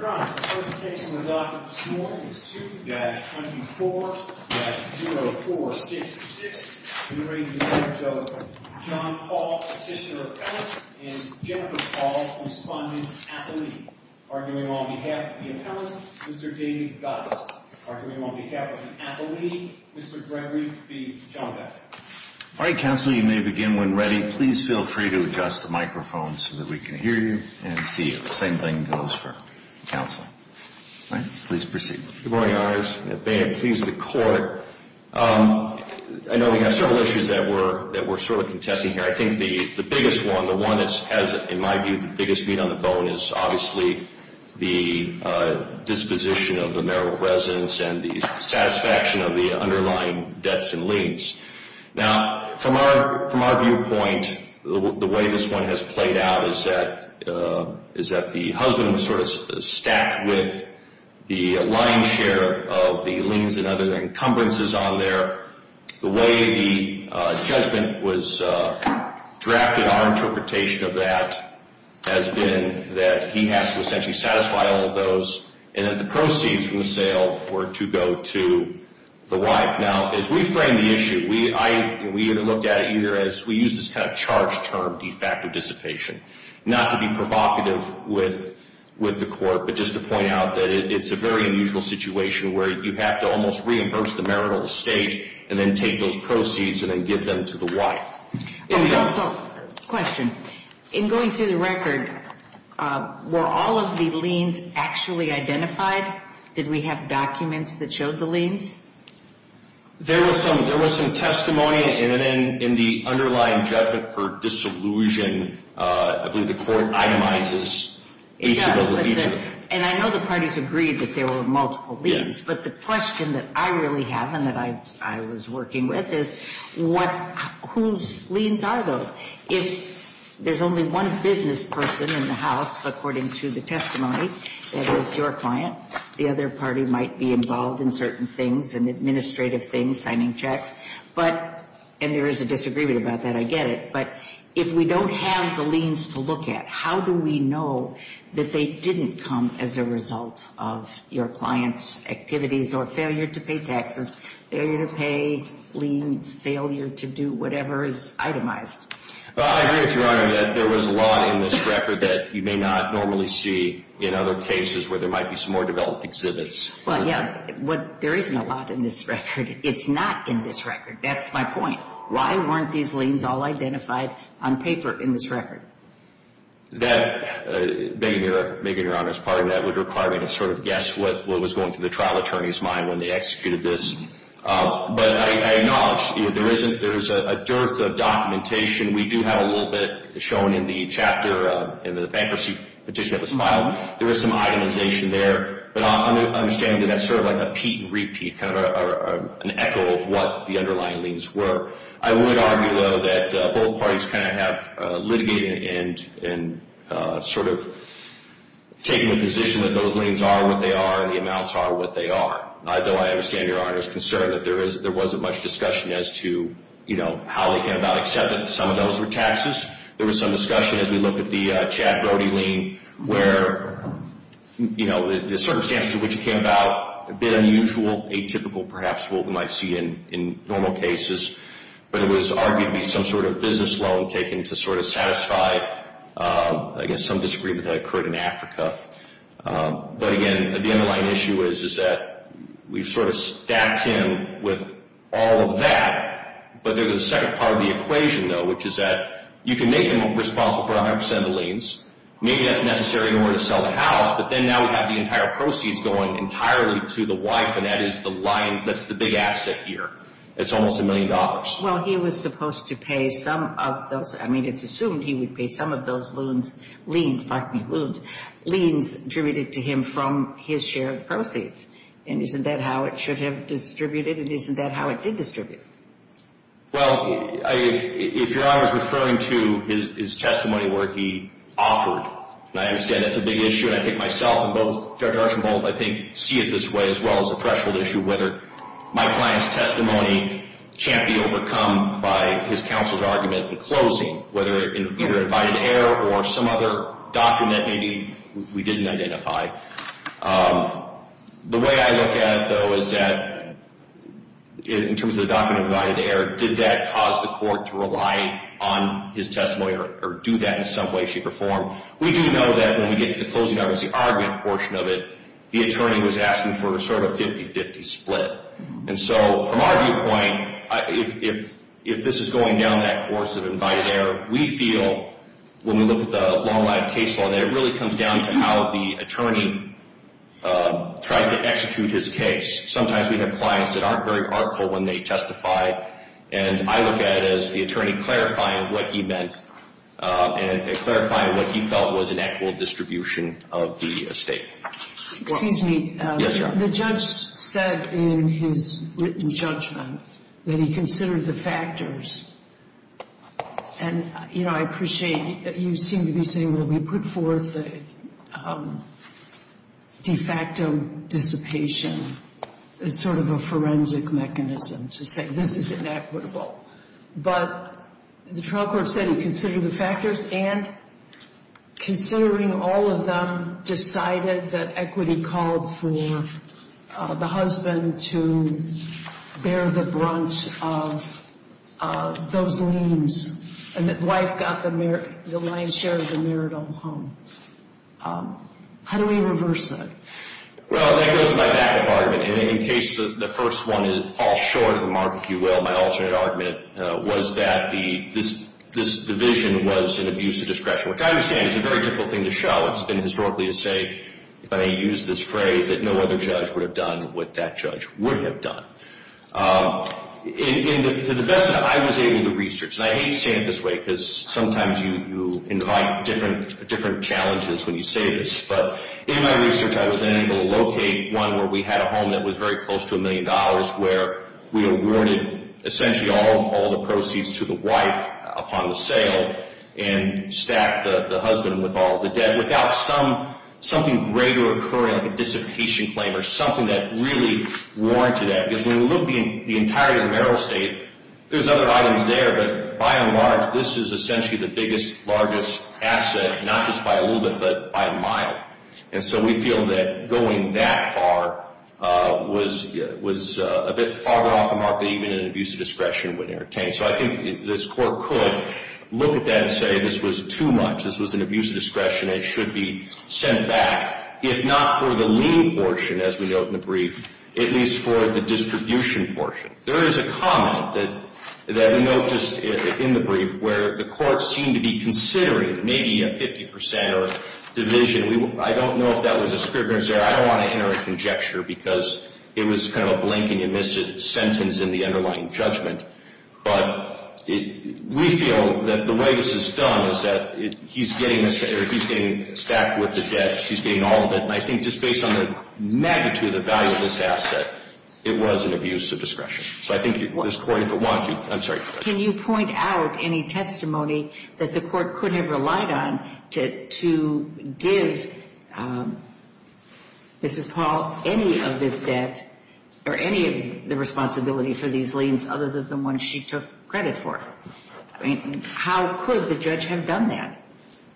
All right, counsel, you may begin when ready. Please feel free to adjust the microphone so that we can hear you and see you. Everything goes for counsel. All right, please proceed. Good morning, Your Honors. May it please the Court. I know we have several issues that we're sort of contesting here. I think the biggest one, the one that has, in my view, the biggest beat on the bone is obviously the disposition of the mayoral residents and the satisfaction of the underlying debts and liens. Now, from our viewpoint, the way this one has played out is that the husband was sort of stacked with the lion's share of the liens and other encumbrances on there. The way the judgment was drafted, our interpretation of that has been that he has to essentially satisfy all of those and that the proceeds from the sale were to go to the wife. Now, as we frame the issue, we looked at it here as we used this kind of charged term, de facto dissipation, not to be provocative with the Court, but just to point out that it's a very unusual situation where you have to almost reimburse the mayoral estate and then take those proceeds and then give them to the wife. Counsel, question. In going through the record, were all of the liens actually identified? Did we have documents that showed the liens? There was some testimony and then in the underlying judgment for dissolution, I believe the Court itemizes each of those liens. And I know the parties agreed that there were multiple liens, but the question that I really have and that I was working with is whose liens are those? If there's only one business person in the house, according to the testimony, that is your client, the other party might be involved in certain things and administrative things, signing checks, but, and there is a disagreement about that, I get it, but if we don't have the liens to look at, how do we know that they didn't come as a result of your client's activities or failure to pay taxes, failure to pay liens, failure to do whatever is itemized? I agree with Your Honor that there was a lot in this record that you may not normally see in other cases where there might be some more developed exhibits. Well, yeah, there isn't a lot in this record. It's not in this record. That's my point. Why weren't these liens all identified on paper in this record? That, Megan, Your Honor, is part of that. It would require me to sort of guess what was going through the trial attorney's mind when they executed this. But I acknowledge there is a dearth of documentation. We do have a little bit shown in the chapter in the bankruptcy petition that was filed. There is some itemization there, but I'm understanding that that's sort of like a peat and repeat, kind of an echo of what the underlying liens were. I would argue, though, that both parties kind of have litigated and sort of taken a position that those liens are what they are and the amounts are what they are. Though I understand Your Honor's concern that there wasn't much discussion as to, you know, how they came about, except that some of those were taxes. There was some discussion as we looked at the Chad Brody lien where, you know, the circumstances in which it came about, a bit unusual, atypical perhaps, what we might see in normal cases. But it was argued to be some sort of business loan taken to sort of satisfy, I guess, some disagreement that occurred in Africa. But again, the underlying issue is that we've sort of stacked him with all of that, but there's a second part of the equation, though, which is that you can make him responsible for 100% of the liens. Maybe that's necessary in order to sell the house, but then now we have the entire proceeds going entirely to the wife, and that is the big asset here. It's almost a million dollars. Well, he was supposed to pay some of those. I mean, it's assumed he would pay some of those loans, liens, pardon me, loans, liens attributed to him from his shared proceeds. And isn't that how it should have distributed, and isn't that how it did distribute? Well, if Your Honor is referring to his testimony where he offered, and I understand that's a big issue, and I think myself and both Judge Archambault, I think, see it this way as well as a threshold issue whether my client's testimony can't be overcome by his counsel's argument at the closing, whether in either an invited error or some other document maybe we didn't identify. The way I look at it, though, is that in terms of the document of invited error, did that cause the court to rely on his testimony or do that in some way, shape, or form? We do know that when we get to the closing arguments, the argument portion of it, the attorney was asking for sort of a 50-50 split. And so from our viewpoint, if this is going down that course of invited error, we feel when we look at the long-lived case law, that it really comes down to how the attorney tries to execute his case. Sometimes we have clients that aren't very artful when they testify, and I look at it as the attorney clarifying what he meant and clarifying what he felt was an equitable distribution of the estate. Excuse me. Yes, Your Honor. The judge said in his written judgment that he considered the factors. And, you know, I appreciate you seem to be saying, well, we put forth the de facto dissipation as sort of a forensic mechanism to say this is inequitable. But the trial court said he considered the factors, and considering all of them decided that equity called for the husband to bear the brunt of those liens and that the wife got the lion's share of the marital home. How do we reverse that? Well, that goes to my backup argument. And in the case of the first one, it falls short of the mark, if you will, of my alternate argument was that this division was an abuse of discretion, which I understand is a very difficult thing to show. It's been historically to say, if I may use this phrase, that no other judge would have done what that judge would have done. To the best of my knowledge, I was able to research, and I hate to say it this way because sometimes you invite different challenges when you say this, but in my research I was then able to locate one where we had a home that was very close to $1 million where we awarded essentially all the proceeds to the wife upon the sale and stacked the husband with all of the debt without something greater occurring, like a dissipation claim or something that really warranted that. Because when you look at the entire marital estate, there's other items there, but by and large this is essentially the biggest, largest asset, not just by a little bit, but by a mile. And so we feel that going that far was a bit farther off the mark than even an abuse of discretion would entertain. So I think this Court could look at that and say this was too much, this was an abuse of discretion and it should be sent back, if not for the lien portion, as we note in the brief, at least for the distribution portion. There is a comment that we note just in the brief where the Court seemed to be considering maybe a 50 percent or division. I don't know if that was a discrepancy there. I don't want to enter a conjecture because it was kind of a blink and you missed it sentence in the underlying judgment. But we feel that the way this is done is that he's getting stacked with the debt, she's getting all of it, and I think just based on the magnitude of the value of this asset, it was an abuse of discretion. So I think this Court, if it wanted to – I'm sorry. Can you point out any testimony that the Court could have relied on to give Mrs. Paul any of this debt or any of the responsibility for these liens other than the one she took credit for? I mean, how could the judge have done that?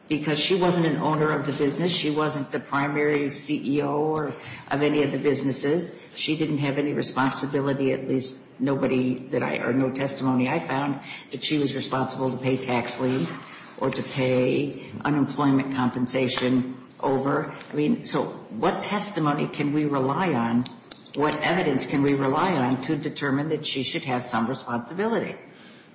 Because she wasn't an owner of the business. She wasn't the primary CEO of any of the businesses. She didn't have any responsibility, at least nobody that I – or no testimony I found that she was responsible to pay tax liens or to pay unemployment compensation over. I mean, so what testimony can we rely on, what evidence can we rely on, to determine that she should have some responsibility?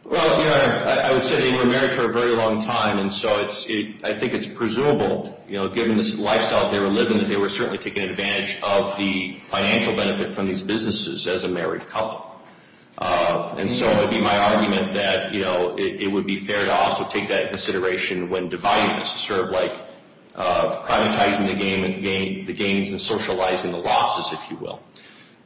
Well, Your Honor, I would say they were married for a very long time, and so I think it's presumable, you know, given the lifestyle they were living, that they were certainly taking advantage of the financial benefit from these businesses as a married couple. And so it would be my argument that, you know, it would be fair to also take that into consideration when dividing this, sort of like privatizing the gains and socializing the losses, if you will.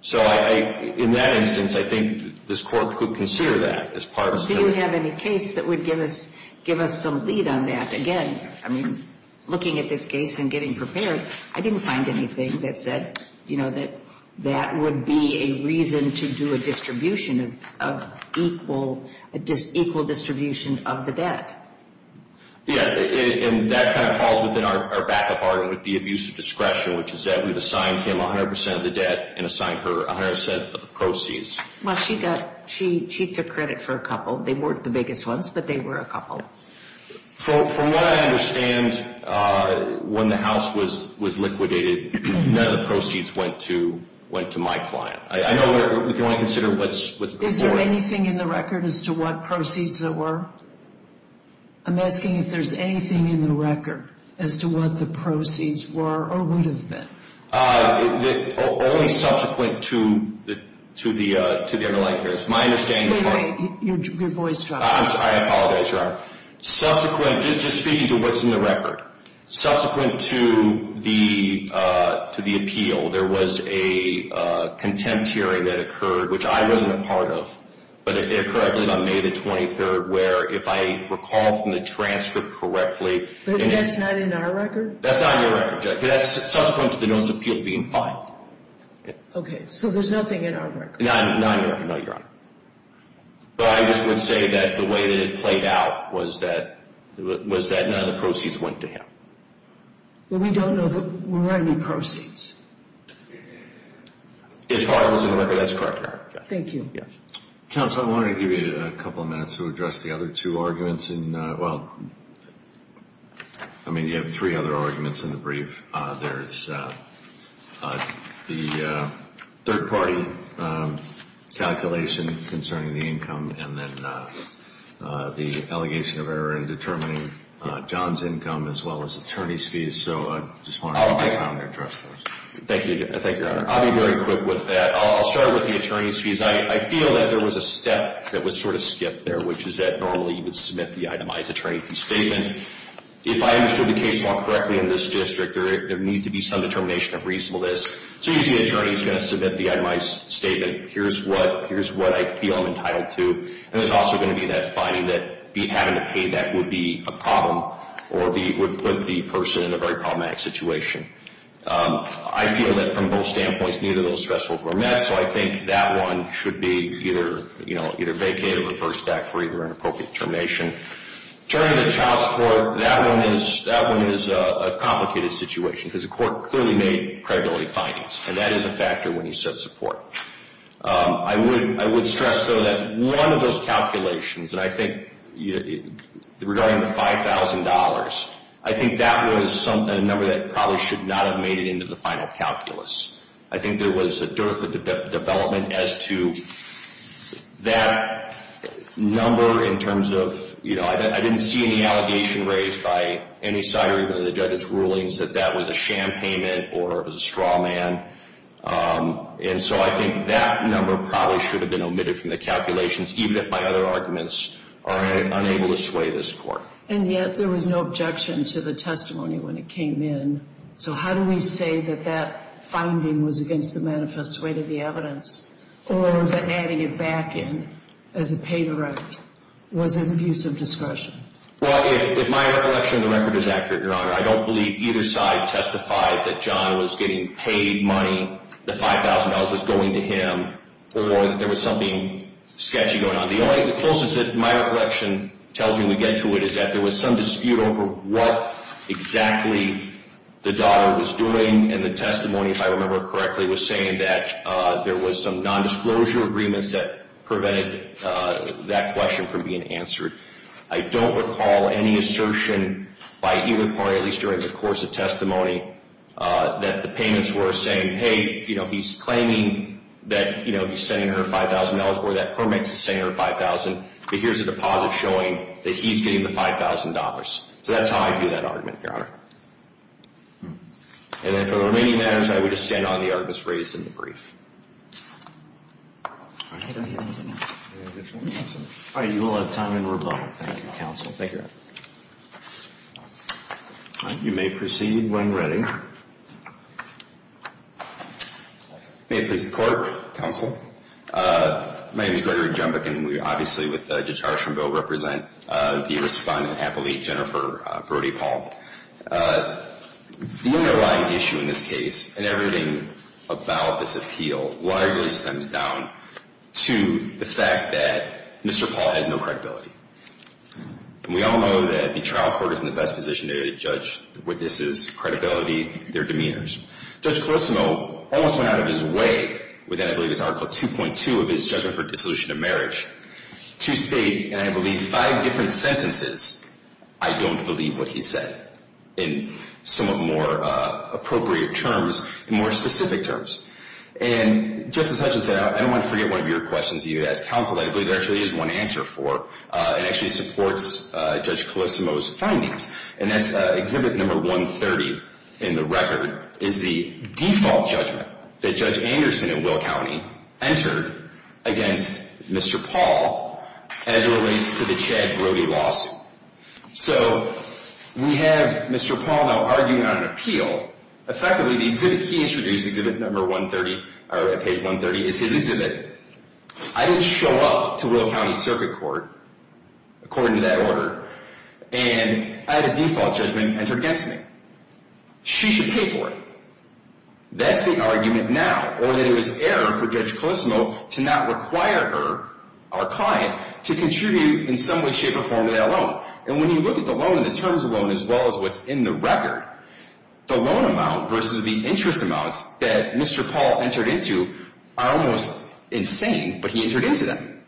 So in that instance, I think this Court could consider that as part of – Do you have any case that would give us some lead on that? Again, I mean, looking at this case and getting prepared, I didn't find anything that said, you know, that that would be a reason to do a distribution of equal distribution of the debt. Yeah, and that kind of falls within our backup argument with the abuse of discretion, which is that we've assigned him 100% of the debt and assigned her 100% of the proceeds. Well, she got – she took credit for a couple. They weren't the biggest ones, but they were a couple. From what I understand, when the house was liquidated, none of the proceeds went to my client. I know we can only consider what's – Is there anything in the record as to what proceeds there were? I'm asking if there's anything in the record as to what the proceeds were or would have been. Only subsequent to the underlying credit. My understanding is – Wait, wait. Your voice dropped. I apologize, Your Honor. Subsequent – just speaking to what's in the record. Subsequent to the appeal, there was a contempt hearing that occurred, which I wasn't a part of, but it occurred, I believe, on May the 23rd, where, if I recall from the transcript correctly – But that's not in our record? That's not in your record, Judge, because that's subsequent to the notice of appeal being filed. Okay, so there's nothing in our record. Not in your record, no, Your Honor. But I just would say that the way that it played out was that none of the proceeds went to him. But we don't know if there were any proceeds. As far as in the record, that's correct, Your Honor. Thank you. Counsel, I wanted to give you a couple of minutes to address the other two arguments in – well, I mean, you have three other arguments in the brief. There's the third-party calculation concerning the income and then the allegation of error in determining John's income as well as attorney's fees. So I just wanted to give you time to address those. Thank you, Your Honor. I'll be very quick with that. I'll start with the attorney's fees. I feel that there was a step that was sort of skipped there, which is that normally you would submit the itemized attorney's statement. And if I understood the case more correctly in this district, there needs to be some determination of reasonableness. So usually the attorney is going to submit the itemized statement. Here's what I feel I'm entitled to. And there's also going to be that finding that having to pay that would be a problem or would put the person in a very problematic situation. I feel that from both standpoints, neither of those thresholds were met, so I think that one should be either vacated or reversed back for either an appropriate determination. Turning to child support, that one is a complicated situation because the court clearly made credibility findings, and that is a factor when you said support. I would stress, though, that one of those calculations, and I think regarding the $5,000, I think that was a number that probably should not have made it into the final calculus. I think there was a dearth of development as to that number in terms of, you know, I didn't see any allegation raised by any side or even the judge's rulings that that was a sham payment or it was a straw man. And so I think that number probably should have been omitted from the calculations, even if my other arguments are unable to sway this court. And yet there was no objection to the testimony when it came in. So how do we say that that finding was against the manifest weight of the evidence or that adding it back in as a pay-to-write was an abuse of discretion? Well, if my recollection of the record is accurate, Your Honor, I don't believe either side testified that John was getting paid money, the $5,000 was going to him, or that there was something sketchy going on. The closest that my recollection tells me we get to it is that there was some dispute over what exactly the daughter was doing. And the testimony, if I remember correctly, was saying that there was some nondisclosure agreements that prevented that question from being answered. I don't recall any assertion by either party, at least during the course of testimony, that the payments were saying, hey, you know, he's claiming that, you know, he's sending her $5,000 or that Permex is sending her $5,000, but here's a deposit showing that he's getting the $5,000. So that's how I view that argument, Your Honor. And then for the remaining matters, I would just stand on the arguments raised in the brief. All right. I don't hear anything else. All right. You will have time in rebuttal. Thank you, Counsel. Thank you, Your Honor. All right. You may proceed when ready. May it please the Court. Counsel. My name is Gregory Jumbuck, and we obviously, with Judge Archambault, represent the respondent, happily, Jennifer Brody-Paul. The underlying issue in this case, and everything about this appeal, largely stems down to the fact that Mr. Paul has no credibility. And we all know that the trial court is in the best position to judge the witness' credibility, their demeanors. Judge Colosimo almost went out of his way, within, I believe, his Article 2.2 of his judgment for dissolution of marriage, to state, in, I believe, five different sentences, I don't believe what he said in somewhat more appropriate terms and more specific terms. And Justice Hutchinson, I don't want to forget one of your questions that you asked counsel. I believe there actually is one answer for it. It actually supports Judge Colosimo's findings, and that's Exhibit Number 130 in the record, is the default judgment that Judge Anderson in Will County entered against Mr. Paul as it relates to the Chad Brody lawsuit. So we have Mr. Paul now arguing on an appeal. Effectively, the exhibit he introduced, Exhibit Number 130, or Page 130, is his exhibit. I didn't show up to Will County Circuit Court, according to that order, and I had a default judgment entered against me. She should pay for it. That's the argument now. Or that it was error for Judge Colosimo to not require her, our client, to contribute in some way, shape, or form to that loan. And when you look at the loan and the terms of the loan, as well as what's in the record, the loan amount versus the interest amounts that Mr. Paul entered into are almost insane, but he entered into them.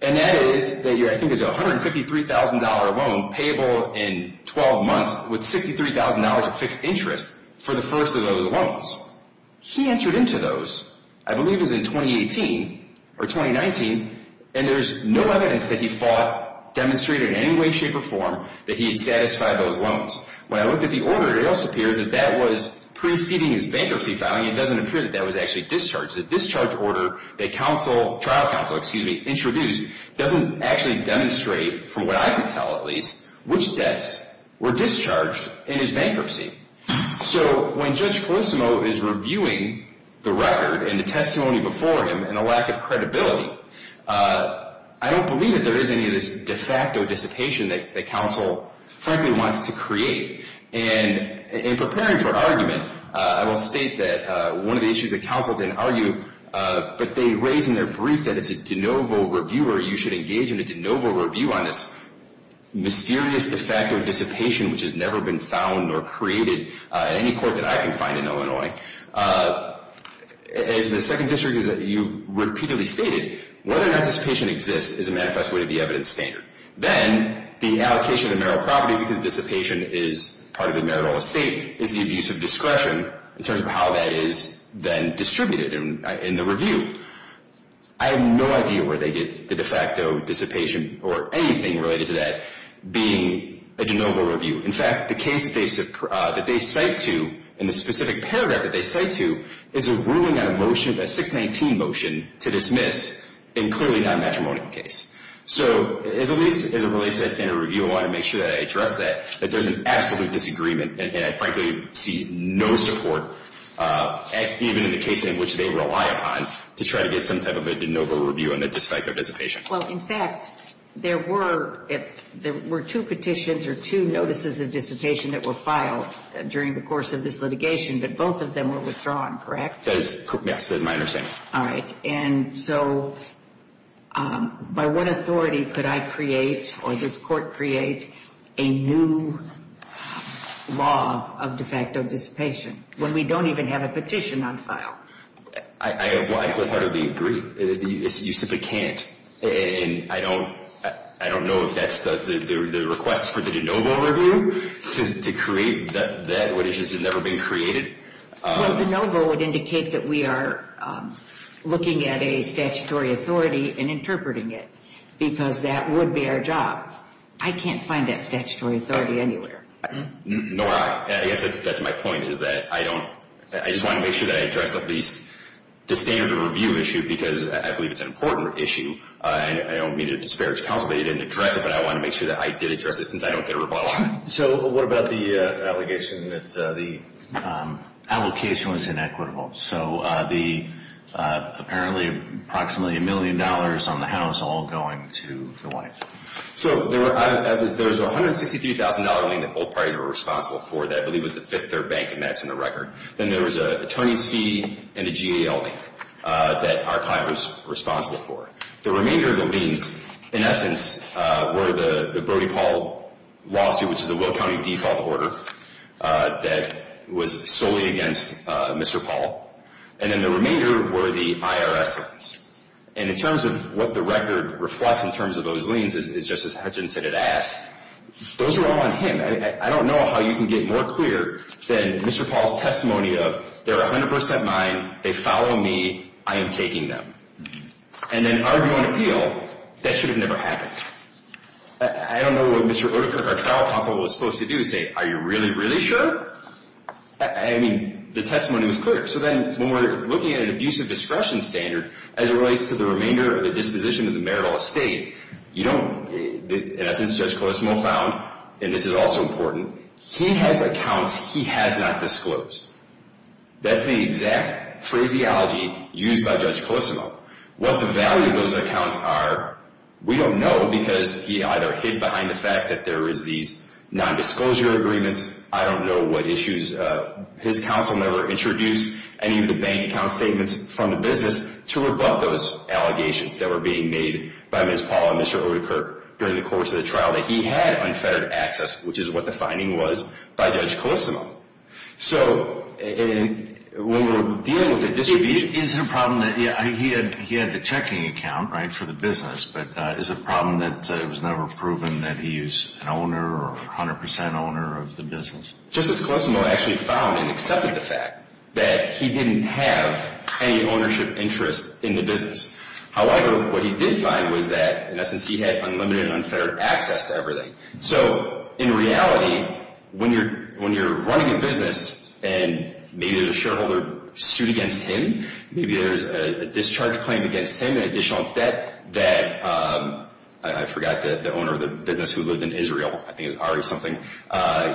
And that is, I think it's a $153,000 loan payable in 12 months with $63,000 of fixed interest for the first of those loans. He entered into those, I believe it was in 2018 or 2019, and there's no evidence that he fought, demonstrated in any way, shape, or form that he had satisfied those loans. When I looked at the order, it also appears that that was preceding his bankruptcy filing. It doesn't appear that that was actually discharged. The discharge order that trial counsel introduced doesn't actually demonstrate, from what I can tell at least, which debts were discharged in his bankruptcy. So when Judge Colosimo is reviewing the record and the testimony before him and the lack of credibility, I don't believe that there is any of this de facto dissipation that counsel frankly wants to create. And in preparing for argument, I will state that one of the issues that counsel can argue, but they raise in their brief that as a de novo reviewer, you should engage in a de novo review on this mysterious de facto dissipation which has never been found or created in any court that I can find in Illinois. As the Second District, you've repeatedly stated, whether or not dissipation exists is a manifest way to the evidence standard. Then the allocation of the marital property, because dissipation is part of the marital estate, is the abuse of discretion in terms of how that is then distributed in the review. I have no idea where they get the de facto dissipation or anything related to that being a de novo review. In fact, the case that they cite to in the specific paragraph that they cite to is a ruling on a motion, a 619 motion to dismiss, and clearly not a matrimonial case. So as it relates to that standard review, I want to make sure that I address that, that there's an absolute disagreement, and I frankly see no support, even in the case in which they rely upon, to try to get some type of a de novo review on the de facto dissipation. Well, in fact, there were two petitions or two notices of dissipation that were filed during the course of this litigation, but both of them were withdrawn, correct? Yes, that is my understanding. All right. And so by what authority could I create or this court create a new law of de facto dissipation when we don't even have a petition on file? I would hardly agree. You simply can't, and I don't know if that's the request for the de novo review to create that which has never been created. Well, de novo would indicate that we are looking at a statutory authority and interpreting it, because that would be our job. I can't find that statutory authority anywhere. Nora, I guess that's my point, is that I don't, I just want to make sure that I address at least the standard review issue because I believe it's an important issue. I don't mean to disparage counsel, but you didn't address it, but I want to make sure that I did address it since I don't get a rebuttal on it. So what about the allegation that the allocation was inequitable? So apparently approximately a million dollars on the house all going to the wife. So there was a $163,000 lien that both parties were responsible for that I believe was the fifth their bank admits in the record. Then there was an attorney's fee and a GAO lien that our client was responsible for. The remainder of the liens, in essence, were the Brody Paul lawsuit, which is a Will County default order that was solely against Mr. Paul. And then the remainder were the IRS liens. And in terms of what the record reflects in terms of those liens, as Justice Hutchinson had asked, those were all on him. I don't know how you can get more clear than Mr. Paul's testimony of, they're 100 percent mine, they follow me, I am taking them. And then argue and appeal, that should have never happened. I don't know what Mr. Oedekerke, our trial counsel, was supposed to do, say, are you really, really sure? I mean, the testimony was clear. So then when we're looking at an abuse of discretion standard as it relates to the remainder of the disposition of the marital estate, you don't, in essence, Judge Colissimo found, and this is also important, he has accounts he has not disclosed. That's the exact phraseology used by Judge Colissimo. What the value of those accounts are, we don't know, because he either hid behind the fact that there is these nondisclosure agreements. I don't know what issues. His counsel never introduced any of the bank account statements from the business to rebut those allegations that were being made by Ms. Paul and Mr. Oedekerke during the course of the trial that he had unfettered access, which is what the finding was by Judge Colissimo. So when we're dealing with a distribution... Is it a problem that he had the checking account, right, for the business, but is it a problem that it was never proven that he is an owner or 100% owner of the business? Justice Colissimo actually found and accepted the fact that he didn't have any ownership interest in the business. However, what he did find was that, in essence, he had unlimited and unfettered access to everything. So in reality, when you're running a business and maybe there's a shareholder suit against him, maybe there's a discharge claim against him, an additional debt that... I forgot the owner of the business who lived in Israel. I think it was Ari something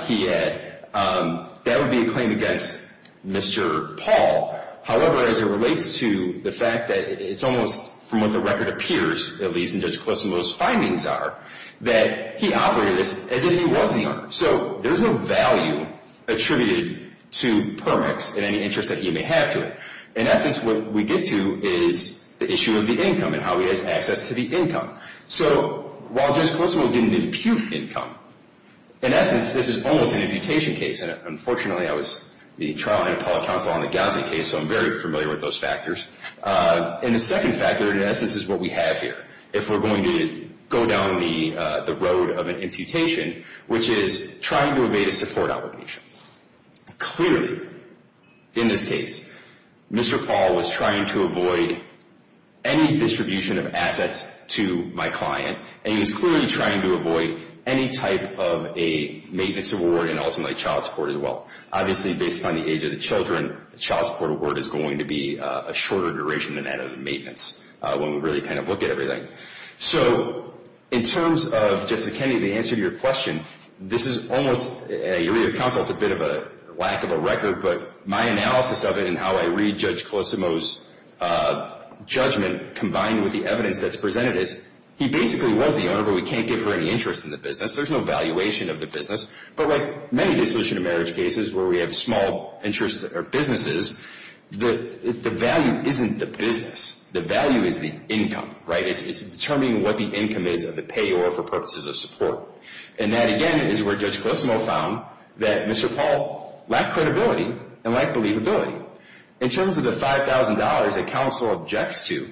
he had. That would be a claim against Mr. Paul. However, as it relates to the fact that it's almost from what the record appears, at least in Judge Colissimo's findings are, that he operated as if he was the owner. So there's no value attributed to Permex in any interest that he may have to it. In essence, what we get to is the issue of the income and how he has access to the income. So while Judge Colissimo didn't impute income, in essence, this is almost an imputation case. Unfortunately, I was the trial head of public counsel on the Gossett case, so I'm very familiar with those factors. And the second factor, in essence, is what we have here. If we're going to go down the road of an imputation, which is trying to evade a support obligation. Clearly, in this case, Mr. Paul was trying to avoid any distribution of assets to my client, and he was clearly trying to avoid any type of a maintenance award and ultimately child support as well. Obviously, based on the age of the children, the child support award is going to be a shorter duration than that of the maintenance when we really kind of look at everything. So in terms of, Justice Kennedy, the answer to your question, this is almost, you read of counsel, it's a bit of a lack of a record, but my analysis of it and how I read Judge Colissimo's judgment combined with the evidence that's presented is he basically was the owner, but we can't give her any interest in the business. There's no valuation of the business. But like many dissociative marriage cases where we have small interests or businesses, the value isn't the business. The value is the income, right? It's determining what the income is of the payor for purposes of support. And that, again, is where Judge Colissimo found that Mr. Paul lacked credibility and lacked believability. In terms of the $5,000 that counsel objects to,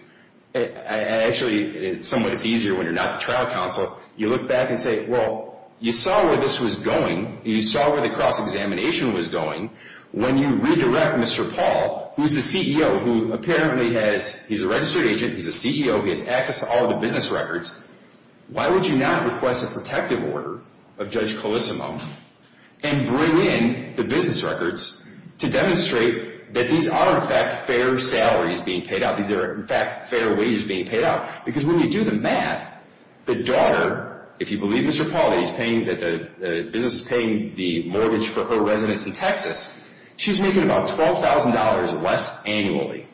actually, it's somewhat easier when you're not the trial counsel. You look back and say, well, you saw where this was going. You saw where the cross-examination was going. When you redirect Mr. Paul, who's the CEO, who apparently has, he's a registered agent, he's a CEO, he has access to all the business records, why would you not request a protective order of Judge Colissimo and bring in the business records to demonstrate that these are, in fact, fair salaries being paid out, these are, in fact, fair wages being paid out? Because when you do the math, the daughter, if you believe Mr. Paul, that the business is paying the mortgage for her residence in Texas, she's making about $12,000 less annually.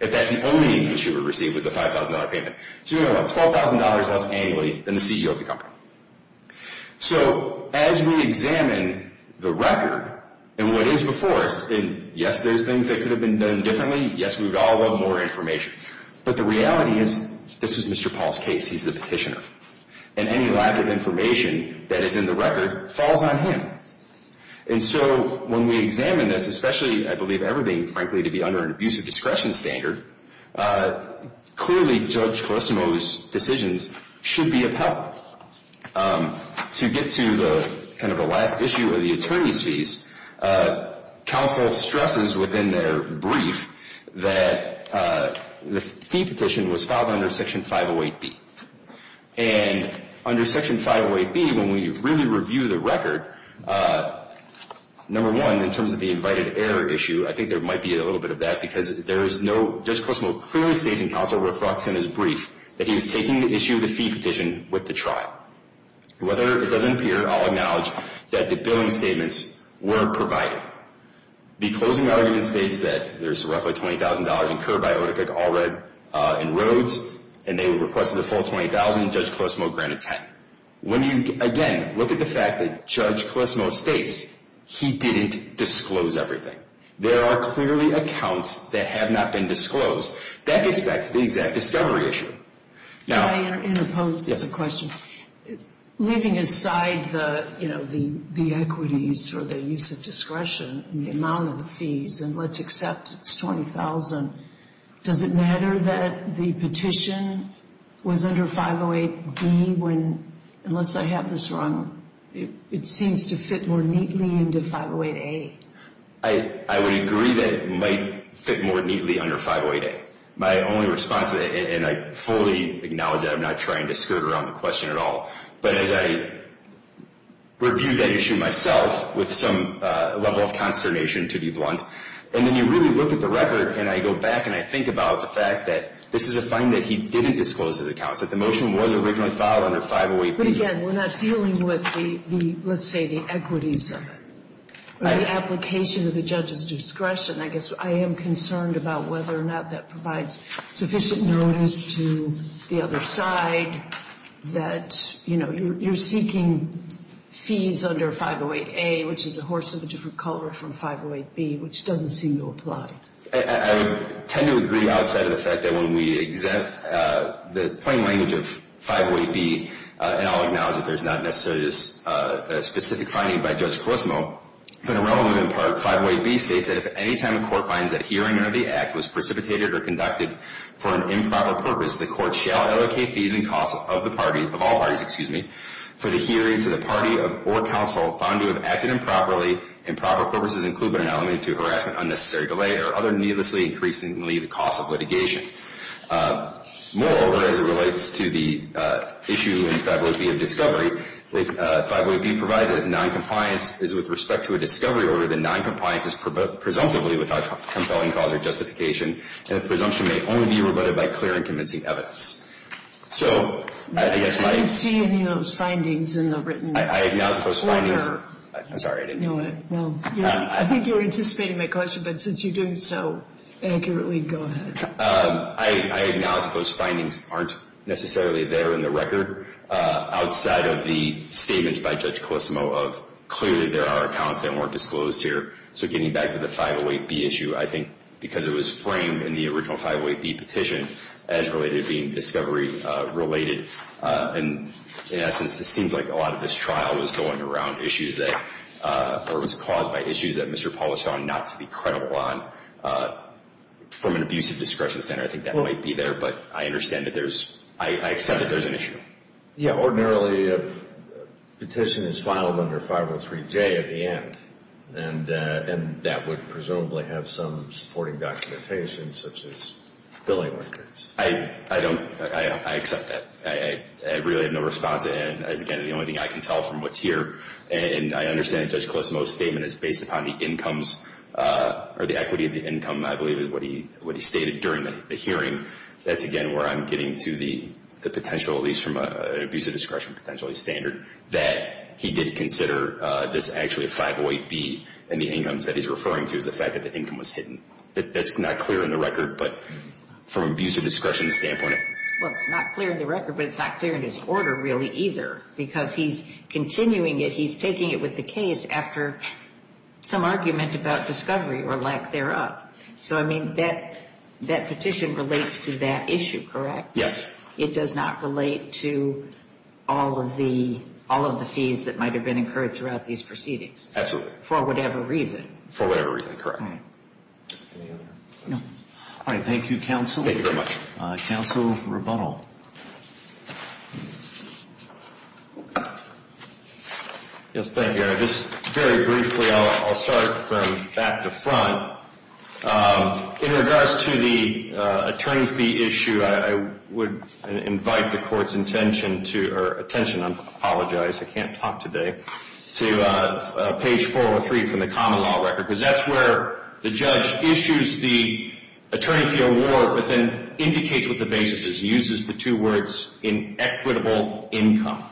If that's the only income she would receive was the $5,000 payment. She's making about $12,000 less annually than the CEO of the company. So as we examine the record and what is before us, yes, there's things that could have been done differently. Yes, we would all love more information. But the reality is this was Mr. Paul's case. He's the petitioner. And any lack of information that is in the record falls on him. And so when we examine this, especially, I believe, everything, frankly, to be under an abusive discretion standard, clearly Judge Colissimo's decisions should be upheld. To get to the kind of the last issue of the attorney's fees, counsel stresses within their brief that the fee petition was filed under Section 508B. And under Section 508B, when we really review the record, number one, in terms of the invited error issue, I think there might be a little bit of that because there is no – Judge Colissimo clearly states in counsel reflects in his brief that he was taking the issue of the fee petition with the trial. Whether it doesn't appear, I'll acknowledge that the billing statements weren't provided. The closing argument states that there's roughly $20,000 incurred by OTC and they requested a full $20,000. Judge Colissimo granted $10,000. When you, again, look at the fact that Judge Colissimo states he didn't disclose everything. There are clearly accounts that have not been disclosed. That gets back to the exact discovery issue. May I interpose? It's a question. Leaving aside the equities or the use of discretion and the amount of the fees and let's accept it's $20,000, does it matter that the petition was under 508B when, unless I have this wrong, it seems to fit more neatly into 508A? I would agree that it might fit more neatly under 508A. My only response to that, and I fully acknowledge that. I'm not trying to skirt around the question at all. But as I review that issue myself with some level of consternation, to be blunt, and then you really look at the record and I go back and I think about the fact that this is a finding that he didn't disclose his accounts, that the motion was originally filed under 508B. But, again, we're not dealing with, let's say, the equities of it. The application of the judge's discretion, I guess I am concerned about whether or not that provides sufficient notice to the other side that, you know, you're seeking fees under 508A, which is a horse of a different color from 508B, which doesn't seem to apply. I tend to agree outside of the fact that when we exempt the plain language of 508B, and I'll acknowledge that there's not necessarily a specific finding by Judge Colosimo, but a relevant part of 508B states that, if at any time the court finds that hearing of the act was precipitated or conducted for an improper purpose, the court shall allocate fees and costs of the party, of all parties, excuse me, for the hearing to the party or counsel found to have acted improperly, improper purposes include but not limited to harassment, unnecessary delay, or other needlessly increasing costs of litigation. Moreover, as it relates to the issue in 508B of discovery, 508B provides that if noncompliance is with respect to a discovery order, the noncompliance is presumptively without compelling cause or justification, and the presumption may only be rebutted by clear and convincing evidence. So I guess my – I didn't see any of those findings in the written order. I acknowledge that those findings – I'm sorry, I didn't know that. No. I think you were anticipating my question, but since you're doing so accurately, go ahead. I acknowledge that those findings aren't necessarily there in the record outside of the statements by Judge Colosimo of, clearly there are accounts that weren't disclosed here. So getting back to the 508B issue, I think because it was framed in the original 508B petition as related to being discovery related, and in essence it seems like a lot of this trial was going around issues that – or was caused by issues that Mr. Paula saw not to be credible on from an abusive discretion center. I think that might be there, but I understand that there's – I accept that there's an issue. Yeah, ordinarily a petition is filed under 503J at the end, and that would presumably have some supporting documentation such as billing records. I don't – I accept that. I really have no response, and, again, the only thing I can tell from what's here, and I understand that Judge Colosimo's statement is based upon the incomes or the equity of the income, I believe, is what he stated during the hearing. That's, again, where I'm getting to the potential, at least from an abusive discretion potentially standard, that he did consider this actually a 508B and the incomes that he's referring to as the fact that the income was hidden. That's not clear in the record, but from an abusive discretion standpoint. Well, it's not clear in the record, but it's not clear in his order really either, because he's continuing it, he's taking it with the case after some argument about discovery or lack thereof. So, I mean, that petition relates to that issue, correct? Yes. It does not relate to all of the fees that might have been incurred throughout these proceedings? Absolutely. For whatever reason? For whatever reason, correct. Any other? No. All right, thank you, counsel. Thank you very much. Counsel Rebuttal. Yes, thank you. Just very briefly, I'll start from back to front. In regards to the attorney fee issue, I would invite the court's attention to, or attention, I apologize, I can't talk today, to page 403 from the common law record, because that's where the judge issues the attorney fee award, but then indicates what the basis is. He uses the two words inequitable income.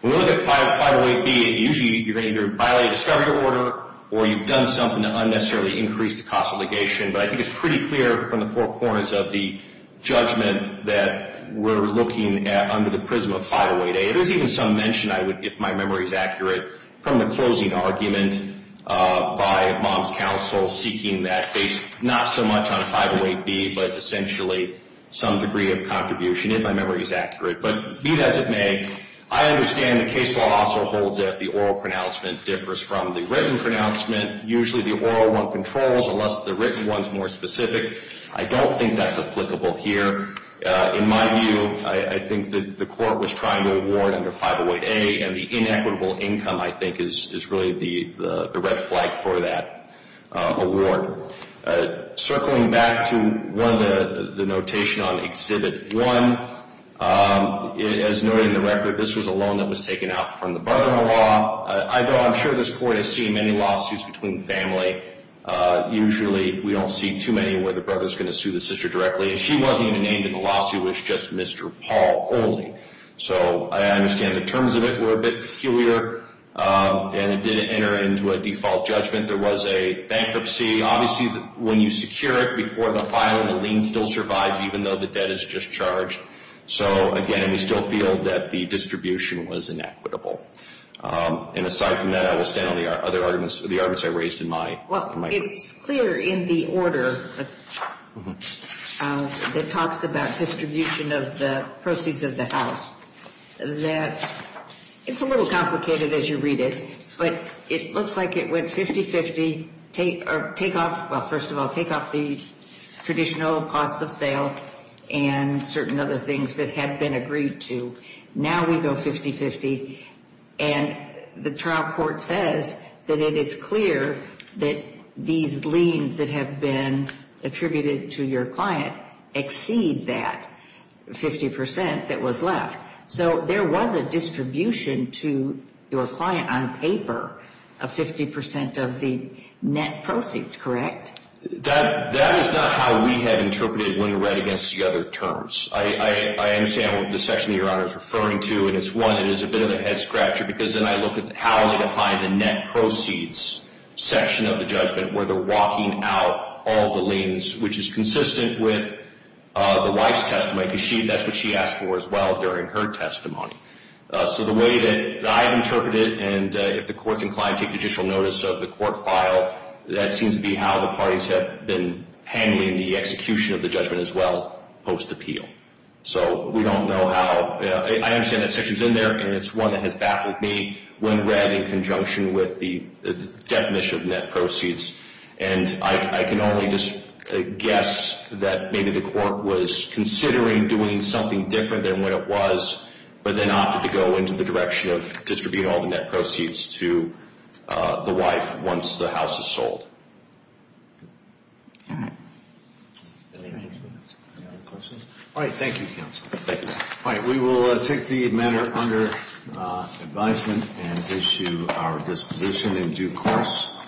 When we look at 508B, usually you're going to either violate a discovery order or you've done something to unnecessarily increase the cost of litigation, but I think it's pretty clear from the four corners of the judgment that we're looking at under the prism of 508A. There's even some mention, if my memory is accurate, from the closing argument by mom's counsel seeking that base, not so much on a 508B, but essentially some degree of contribution, if my memory is accurate. But be that as it may, I understand the case law also holds that the oral pronouncement differs from the written pronouncement. Usually the oral one controls, unless the written one's more specific. I don't think that's applicable here. In my view, I think that the court was trying to award under 508A, and the inequitable income, I think, is really the red flag for that award. Circling back to one of the notation on Exhibit 1, as noted in the record, this was a loan that was taken out from the brother-in-law. I'm sure this court has seen many lawsuits between family. Usually we don't see too many where the brother's going to sue the sister directly, and she wasn't even named in the lawsuit. It was just Mr. Paul only. So I understand the terms of it were a bit peculiar, and it didn't enter into a default judgment. There was a bankruptcy. Obviously, when you secure it before the filing, the lien still survives, even though the debt is discharged. So, again, we still feel that the distribution was inequitable. And aside from that, I will stand on the other arguments I raised in my group. Well, it's clear in the order that talks about distribution of the proceeds of the house that it's a little complicated as you read it, but it looks like it went 50-50. Take off, well, first of all, take off the traditional costs of sale and certain other things that had been agreed to. Now we go 50-50, and the trial court says that it is clear that these liens that have been attributed to your client exceed that 50 percent that was left. So there was a distribution to your client on paper of 50 percent of the net proceeds, correct? That is not how we had interpreted it when we read it against the other terms. I understand what the section you're referring to, and it's one that is a bit of a head scratcher because then I look at how they define the net proceeds section of the judgment where they're walking out all the liens, which is consistent with the wife's testimony because that's what she asked for as well during her testimony. So the way that I've interpreted it, and if the court's inclined to take judicial notice of the court file, that seems to be how the parties have been handling the execution of the judgment as well post-appeal. So we don't know how. I understand that section's in there, and it's one that has baffled me when read in conjunction with the definition of net proceeds, and I can only guess that maybe the court was considering doing something different than what it was but then opted to go into the direction of distributing all the net proceeds to the wife once the house is sold. All right. Any other questions? All right, thank you, counsel. Thank you. All right, we will take the matter under advisement and issue our disposition in due course.